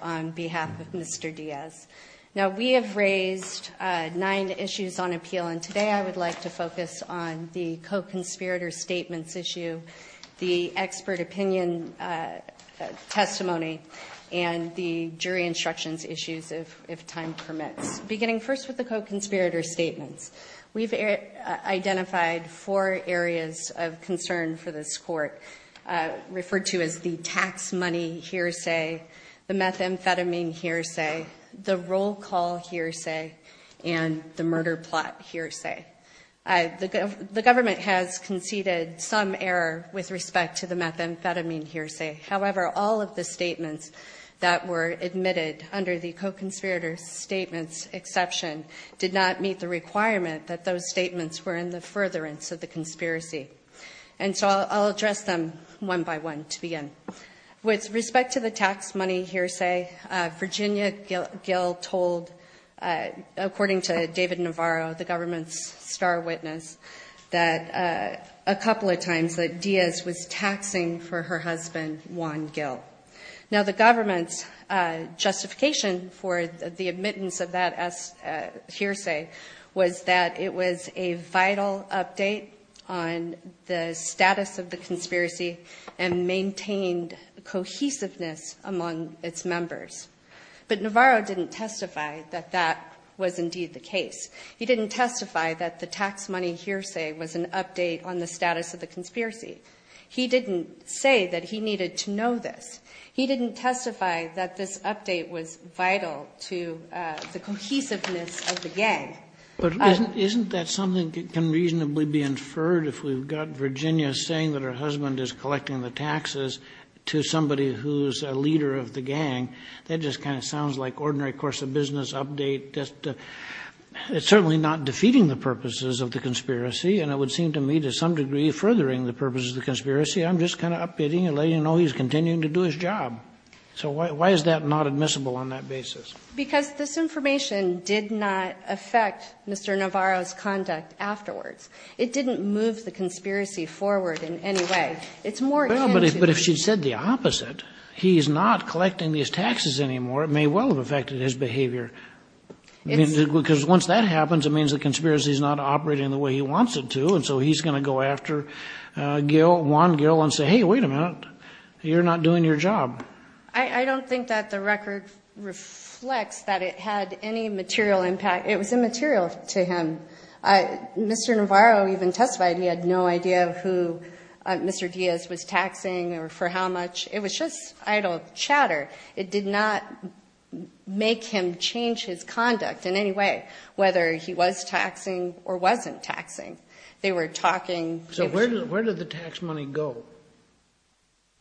on behalf of Mr. Diaz. Now, we have raised nine issues on appeal, and today I would like to focus on the co-conspirator statements issue, the expert opinion testimony, and the jury instructions issues, if time permits, beginning first with the co-conspirator statements. We've identified four areas of concern for this court, referred to as the tax money hearsay, the methamphetamine hearsay, the roll call hearsay, and the murder plot hearsay. The government has conceded some error with respect to the methamphetamine hearsay. However, all of the statements that were admitted under the co-conspirator statements exception did not meet the requirement that those statements were in the furtherance of the conspiracy. And so I'll address them one by one to begin. With respect to the tax money hearsay, Virginia Gill told, according to David Navarro, the government's star witness, that a couple of times that Diaz was taxing for her husband, Juan Gill. Now, the government's justification for the admittance of that hearsay was that it was a vital update on the status of the conspiracy and maintained cohesiveness among its members. But Navarro didn't testify that that was indeed the case. He didn't testify that the tax money hearsay was an update on the status of the conspiracy. He didn't say that he needed to know this. He didn't testify that this update was vital to the cohesiveness of the gang. Kennedy But isn't that something that can reasonably be inferred if we've got Virginia saying that her husband is collecting the taxes to somebody who's a leader of the gang? That just kind of sounds like ordinary course of business update. It's certainly not defeating the purposes of the conspiracy, and it would seem to me to some degree furthering the purposes of the conspiracy. I'm just kind of updating and letting you know he's continuing to do his job. So why is that not admissible on that basis? Because this information did not affect Mr. Navarro's conduct afterwards. It didn't move the conspiracy forward in any way. It's more. But if she said the opposite, he's not collecting these taxes anymore, it may well have affected his behavior. Because once that happens, it means the conspiracy is not operating the way he wants it to. And so he's going to go after Gil, Juan Gil, and say, hey, wait a minute, you're not doing your job. I don't think that the record reflects that it had any material impact. It was immaterial to him. Mr. Navarro even testified he had no idea who Mr. Diaz was taxing or for how much. It was just idle chatter. It did not make him change his conduct in any way, whether he was taxing or wasn't taxing. They were talking. So where did the tax money go?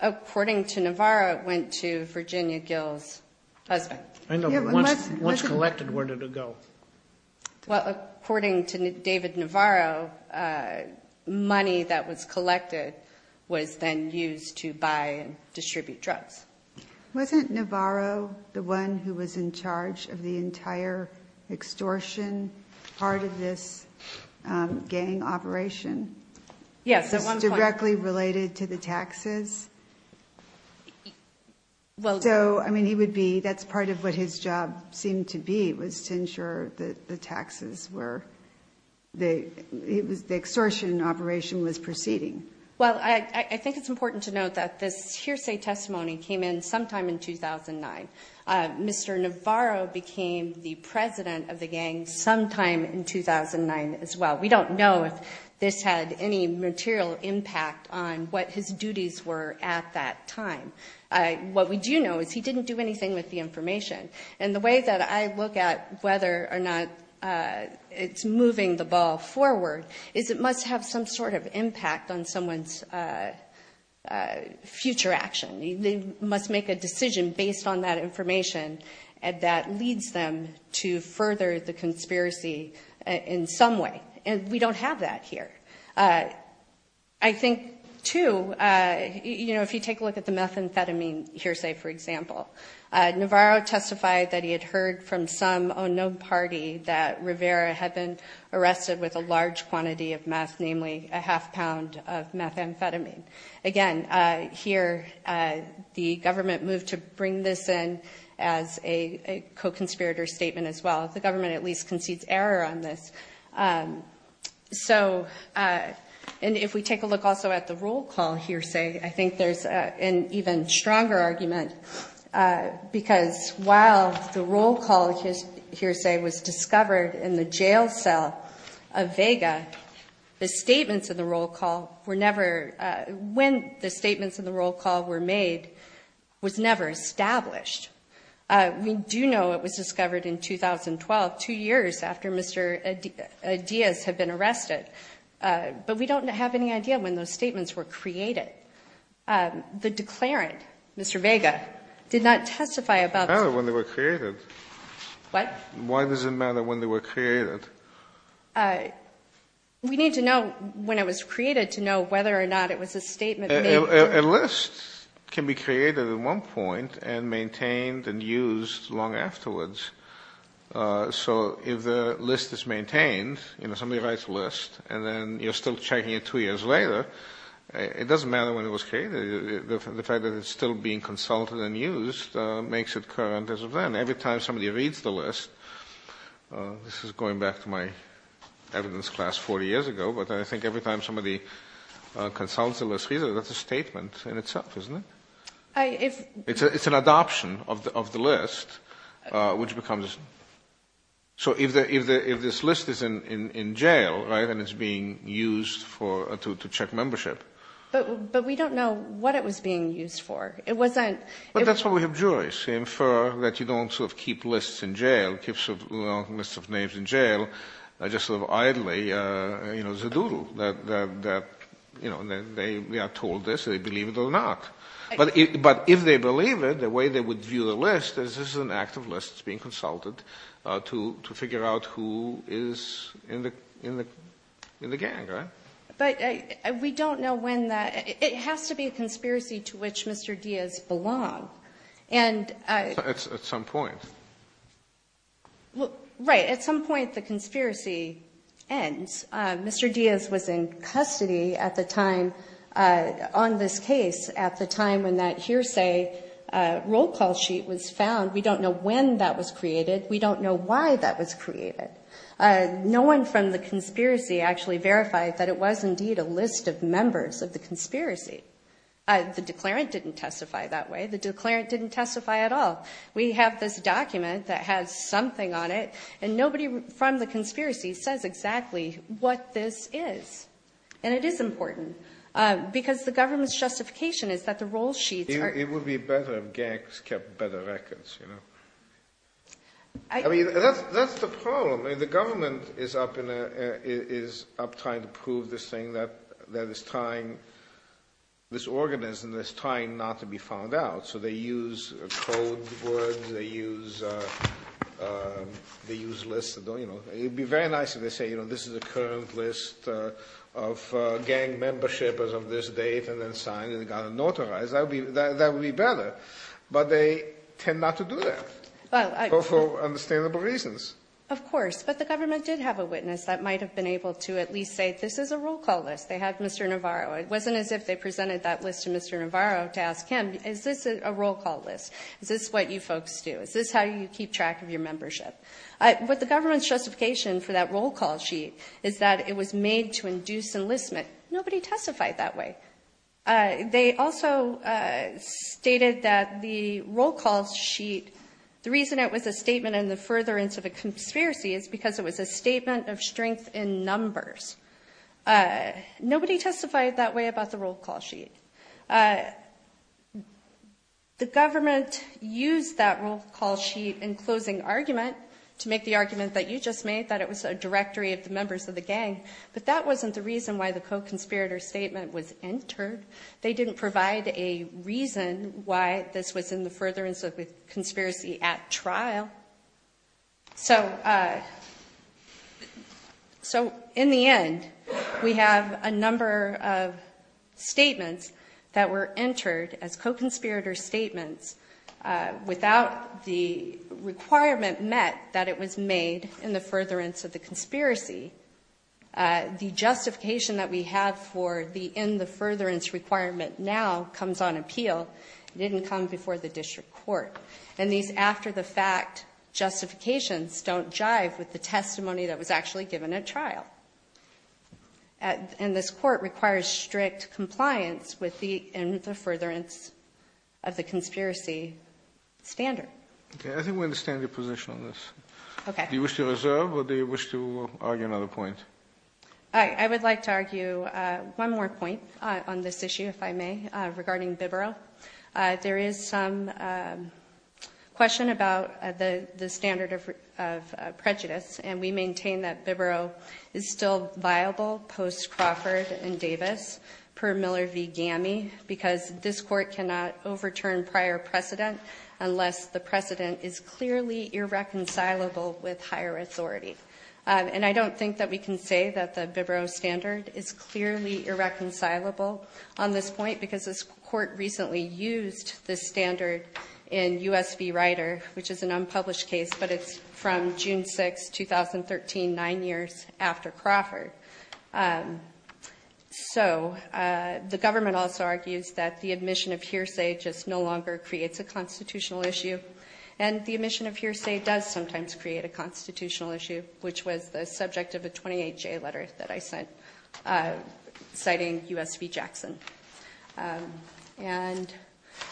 According to Navarro, it went to Virginia Gil's husband. Once collected, where did it go? Well, according to David Navarro, money that was collected was then used to buy and distribute drugs. Wasn't Navarro the one who was in charge of the entire extortion part of this gang operation? Yes. Was this directly related to the taxes? So, I mean, he would be, that's part of what his job seemed to be, was to ensure that the taxes were, the extortion operation was proceeding. Well, I think it's important to note that this hearsay testimony came in sometime in 2009. Mr. Navarro became the president of the gang sometime in 2009 as well. We don't know if this had any material impact on what his duties were at that time. What we do know is he didn't do anything with the information. And the way that I look at whether or not it's moving the ball forward is it must have some sort of impact on someone's future action. They must make a decision based on that information that leads them to further the conspiracy in some way. And we don't have that here. I think, too, you know, if you take a look at the methamphetamine hearsay, for example, Navarro testified that he had heard from some unknown party that Rivera had been arrested with a large quantity of meth, namely a half pound of methamphetamine. Again, here the government moved to bring this in as a co-conspirator statement as well. The government at least concedes error on this. So, and if we take a look also at the roll call hearsay, I think there's an even stronger argument, because while the roll call hearsay was discovered in the jail cell of Vega, the statements in the roll call were never – when the statements in the roll call were made was never established. We do know it was discovered in 2012, two years after Mr. Diaz had been arrested. But we don't have any idea when those statements were created. The declarant, Mr. Vega, did not testify about this. Why does it matter when they were created? We need to know when it was created to know whether or not it was a statement made. A list can be created at one point and maintained and used long afterwards. So if the list is maintained, you know, somebody writes a list and then you're still checking it two years later, it doesn't matter when it was created. The fact that it's still being consulted and used makes it current as of then. Every time somebody reads the list, this is going back to my evidence class 40 years ago, but I think every time somebody consults a list reader, that's a statement in itself, isn't it? It's an adoption of the list, which becomes – so if this list is in jail, right, and it's being used to check membership. But we don't know what it was being used for. It wasn't – But that's why we have juries. They infer that you don't sort of keep lists in jail, keep sort of long lists of names in jail, just sort of idly, you know, zadoodle, that, you know, they are told this, they believe it or not. But if they believe it, the way they would view the list is this is an active list that's being consulted to figure out who is in the gang, right? But we don't know when that – it has to be a conspiracy to which Mr. Diaz belonged. And – At some point. Right. At some point the conspiracy ends. Mr. Diaz was in custody at the time on this case at the time when that hearsay roll call sheet was found. We don't know when that was created. We don't know why that was created. No one from the conspiracy actually verified that it was indeed a list of members of the conspiracy. The declarant didn't testify that way. The declarant didn't testify at all. We have this document that has something on it, and nobody from the conspiracy says exactly what this is. And it is important, because the government's justification is that the roll sheets are – It would be better if gangs kept better records, you know. I mean, that's the problem. I mean, the government is up in a – is up trying to prove this thing that is tying – this organism is tying not to be found out. So they use code words. They use lists. It would be very nice if they say, you know, this is the current list of gang membership as of this date, and then sign, and they got it notarized. That would be better. But they tend not to do that. For understandable reasons. Of course. But the government did have a witness that might have been able to at least say, this is a roll call list. They had Mr. Navarro. It wasn't as if they presented that list to Mr. Navarro to ask him, is this a roll call list? Is this what you folks do? Is this how you keep track of your membership? But the government's justification for that roll call sheet is that it was made to induce enlistment. Nobody testified that way. They also stated that the roll call sheet – the reason it was a statement in the furtherance of a conspiracy is because it was a statement of strength in numbers. Nobody testified that way about the roll call sheet. The government used that roll call sheet in closing argument to make the argument that you just made, that it was a directory of the members of the gang. But that wasn't the reason why the co-conspirator statement was entered. They didn't provide a reason why this was in the furtherance of a conspiracy at trial. So in the end, we have a number of statements that were entered as co-conspirator statements without the requirement met that it was made in the furtherance of the conspiracy. The justification that we have for the in the furtherance requirement now comes on appeal. It didn't come before the district court. And these after-the-fact justifications don't jive with the testimony that was actually given at trial. And this Court requires strict compliance with the in the furtherance of the conspiracy standard. Okay. I think we understand your position on this. Okay. Do you wish to reserve or do you wish to argue another point? I would like to argue one more point on this issue, if I may, regarding Bibero. There is some question about the standard of prejudice. And we maintain that Bibero is still viable post Crawford and Davis per Miller v. Gami because this Court cannot overturn prior precedent unless the precedent is clearly irreconcilable with higher authority. And I don't think that we can say that the Bibero standard is clearly irreconcilable on this point because this Court recently used this standard in U.S. v. Ryder, which is an unpublished case, but it's from June 6, 2013, nine years after Crawford. So the government also argues that the admission of hearsay just no longer creates a constitutional issue. And the admission of hearsay does sometimes create a constitutional issue, which was the subject of a 28-J letter that I sent citing U.S. v. Jackson. And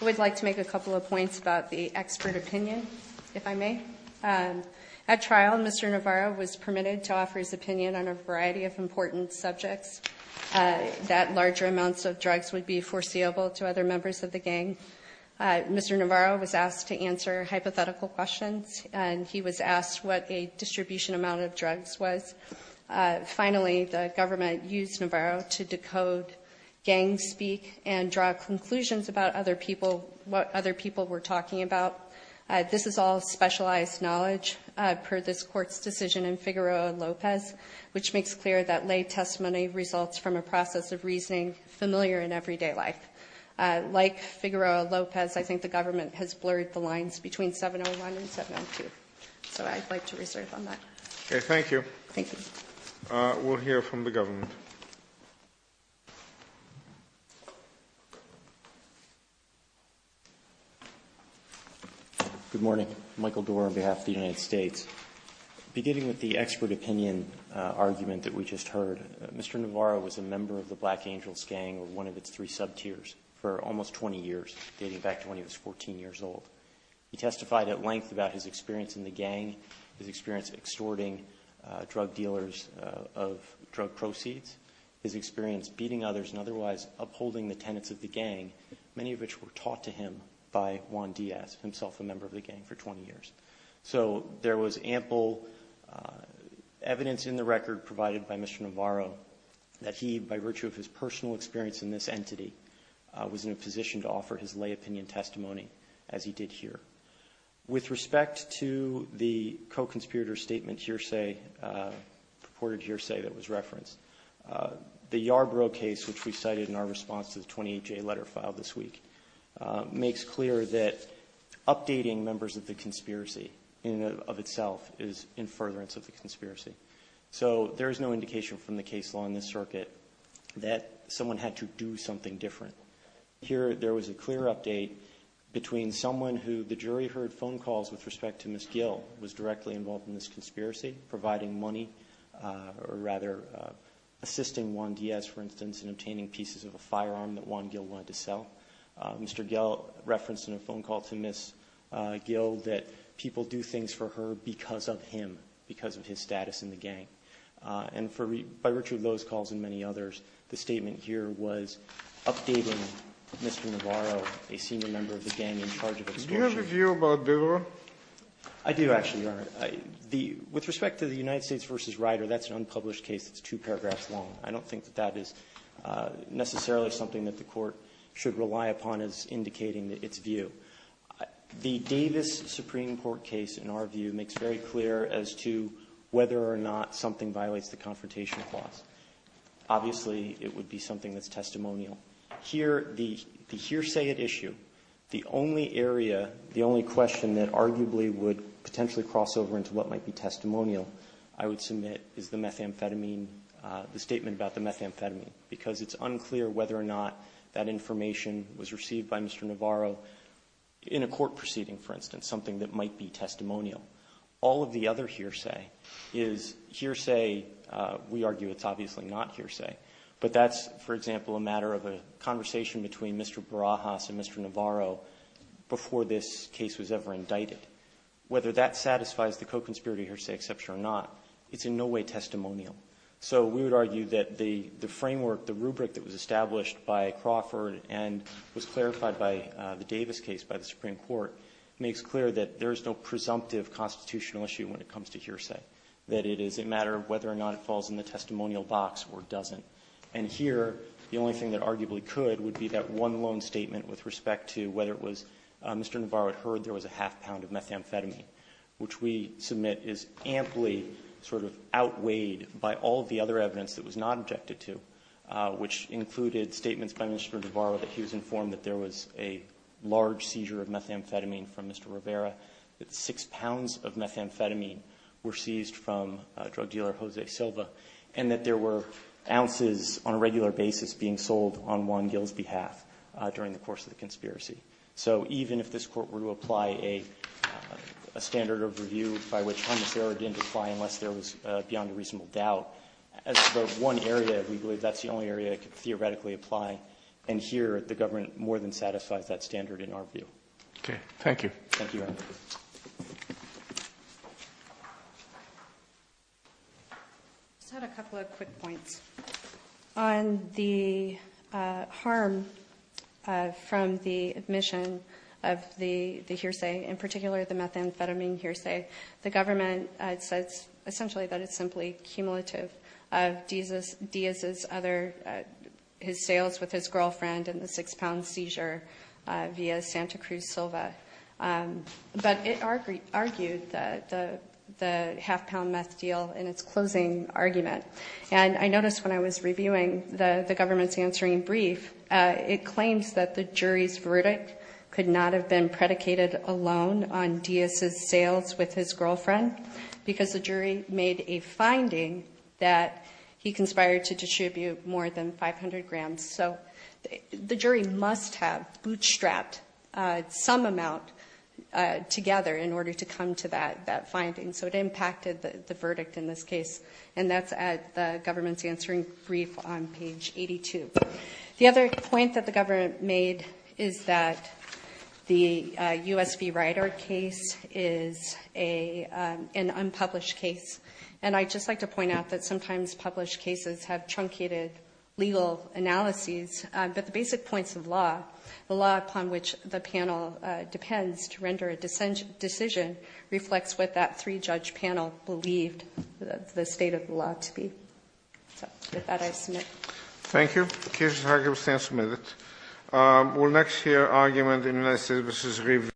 I would like to make a couple of points about the expert opinion, if I may. At trial, Mr. Navarro was permitted to offer his opinion on a variety of important subjects, that larger amounts of drugs would be foreseeable to other members of the gang. Mr. Navarro was asked to answer hypothetical questions, and he was asked what a distribution amount of drugs was. Finally, the government used Navarro to decode gang speak and draw conclusions about other people, what other people were talking about. This is all specialized knowledge per this Court's decision in Figueroa and Lopez, which makes clear that lay testimony results from a process of reasoning familiar in everyday life. Like Figueroa and Lopez, I think the government has blurred the lines between 701 and 702. So I'd like to reserve on that. Thank you. Thank you. We'll hear from the government. Good morning. Michael Dorr on behalf of the United States. Beginning with the expert opinion argument that we just heard, Mr. Navarro was a member of the Black Angels gang or one of its three sub-tiers for almost 20 years, dating back to when he was 14 years old. He testified at length about his experience in the gang, his experience extorting drug dealers of drug proceeds, his experience beating others and otherwise upholding the tenets of the gang, many of which were taught to him by Juan Diaz, himself a member of the gang for 20 years. So there was ample evidence in the record provided by Mr. Navarro that he, by virtue of his personal experience in this entity, was in a position to offer his lay opinion testimony, as he did here. With respect to the co-conspirator statement hearsay, purported hearsay that was referenced, the Yarborough case, which we cited in our response to the 28-J letter filed this week, makes clear that updating members of the conspiracy in and of itself is in furtherance of the conspiracy. So there is no indication from the case law in this circuit that someone had to do something different. Here, there was a clear update between someone who the jury heard phone calls with respect to Ms. Gill, was directly involved in this conspiracy, providing money, or rather, assisting Juan Diaz, for instance, in obtaining pieces of a firearm that Juan Gill wanted to sell. Mr. Gill referenced in a phone call to Ms. Gill that people do things for her because of him, because of his status in the gang. And for by virtue of those calls and many others, the statement here was updating Mr. Navarro, a senior member of the gang, in charge of the conspiracy. Do you have a view about Biller? I do, actually, Your Honor. With respect to the United States v. Rider, that's an unpublished case that's two paragraphs long. I don't think that that is necessarily something that the Court should rely upon as indicating its view. The Davis Supreme Court case, in our view, makes very clear as to whether or not something violates the Confrontation Clause. Obviously, it would be something that's testimonial. Here, the hearsay at issue, the only area, the only question that arguably would potentially cross over into what might be testimonial, I would submit, is the methamphetamine the statement about the methamphetamine, because it's unclear whether or not that is in a court proceeding, for instance, something that might be testimonial. All of the other hearsay is hearsay we argue it's obviously not hearsay, but that's, for example, a matter of a conversation between Mr. Barajas and Mr. Navarro before this case was ever indicted. Whether that satisfies the co-conspirator hearsay exception or not, it's in no way testimonial. So we would argue that the framework, the rubric that was established by Crawford and was clarified by the Davis case by the Supreme Court, makes clear that there is no presumptive constitutional issue when it comes to hearsay. That it is a matter of whether or not it falls in the testimonial box or doesn't. And here, the only thing that arguably could would be that one lone statement with respect to whether it was Mr. Navarro had heard there was a half pound of methamphetamine, which we submit is amply sort of outweighed by all the other evidence that was not Mr. Navarro, that he was informed that there was a large seizure of methamphetamine from Mr. Rivera, that six pounds of methamphetamine were seized from drug dealer Jose Silva, and that there were ounces on a regular basis being sold on Juan Gil's behalf during the course of the conspiracy. So even if this Court were to apply a standard of review by which Hamasera didn't apply unless there was beyond a reasonable doubt, as for one area, we believe that's the only area that could theoretically apply. And here, the government more than satisfies that standard, in our view. Okay. Thank you. Thank you, Your Honor. I just had a couple of quick points. On the harm from the admission of the hearsay, in particular the methamphetamine hearsay, the government says essentially that it's simply cumulative. Of Diaz's other, his sales with his girlfriend and the six-pound seizure via Santa Cruz Silva. But it argued that the half-pound meth deal in its closing argument, and I noticed when I was reviewing the government's answering brief, it claims that the jury's verdict could not have been predicated alone on Diaz's sales with his girlfriend, because the jury made a finding that he conspired to distribute more than 500 grams. So the jury must have bootstrapped some amount together in order to come to that finding. So it impacted the verdict in this case. And that's at the government's answering brief on page 82. The other point that the government made is that the U.S. v. Ryder case is an unpublished case. And I'd just like to point out that sometimes published cases have truncated legal analyses. But the basic points of law, the law upon which the panel depends to render a decision, reflects what that three-judge panel believed the state of the law to be. So with that, I submit. Thank you. The case has been submitted. We'll next hear argument in the United States versus review.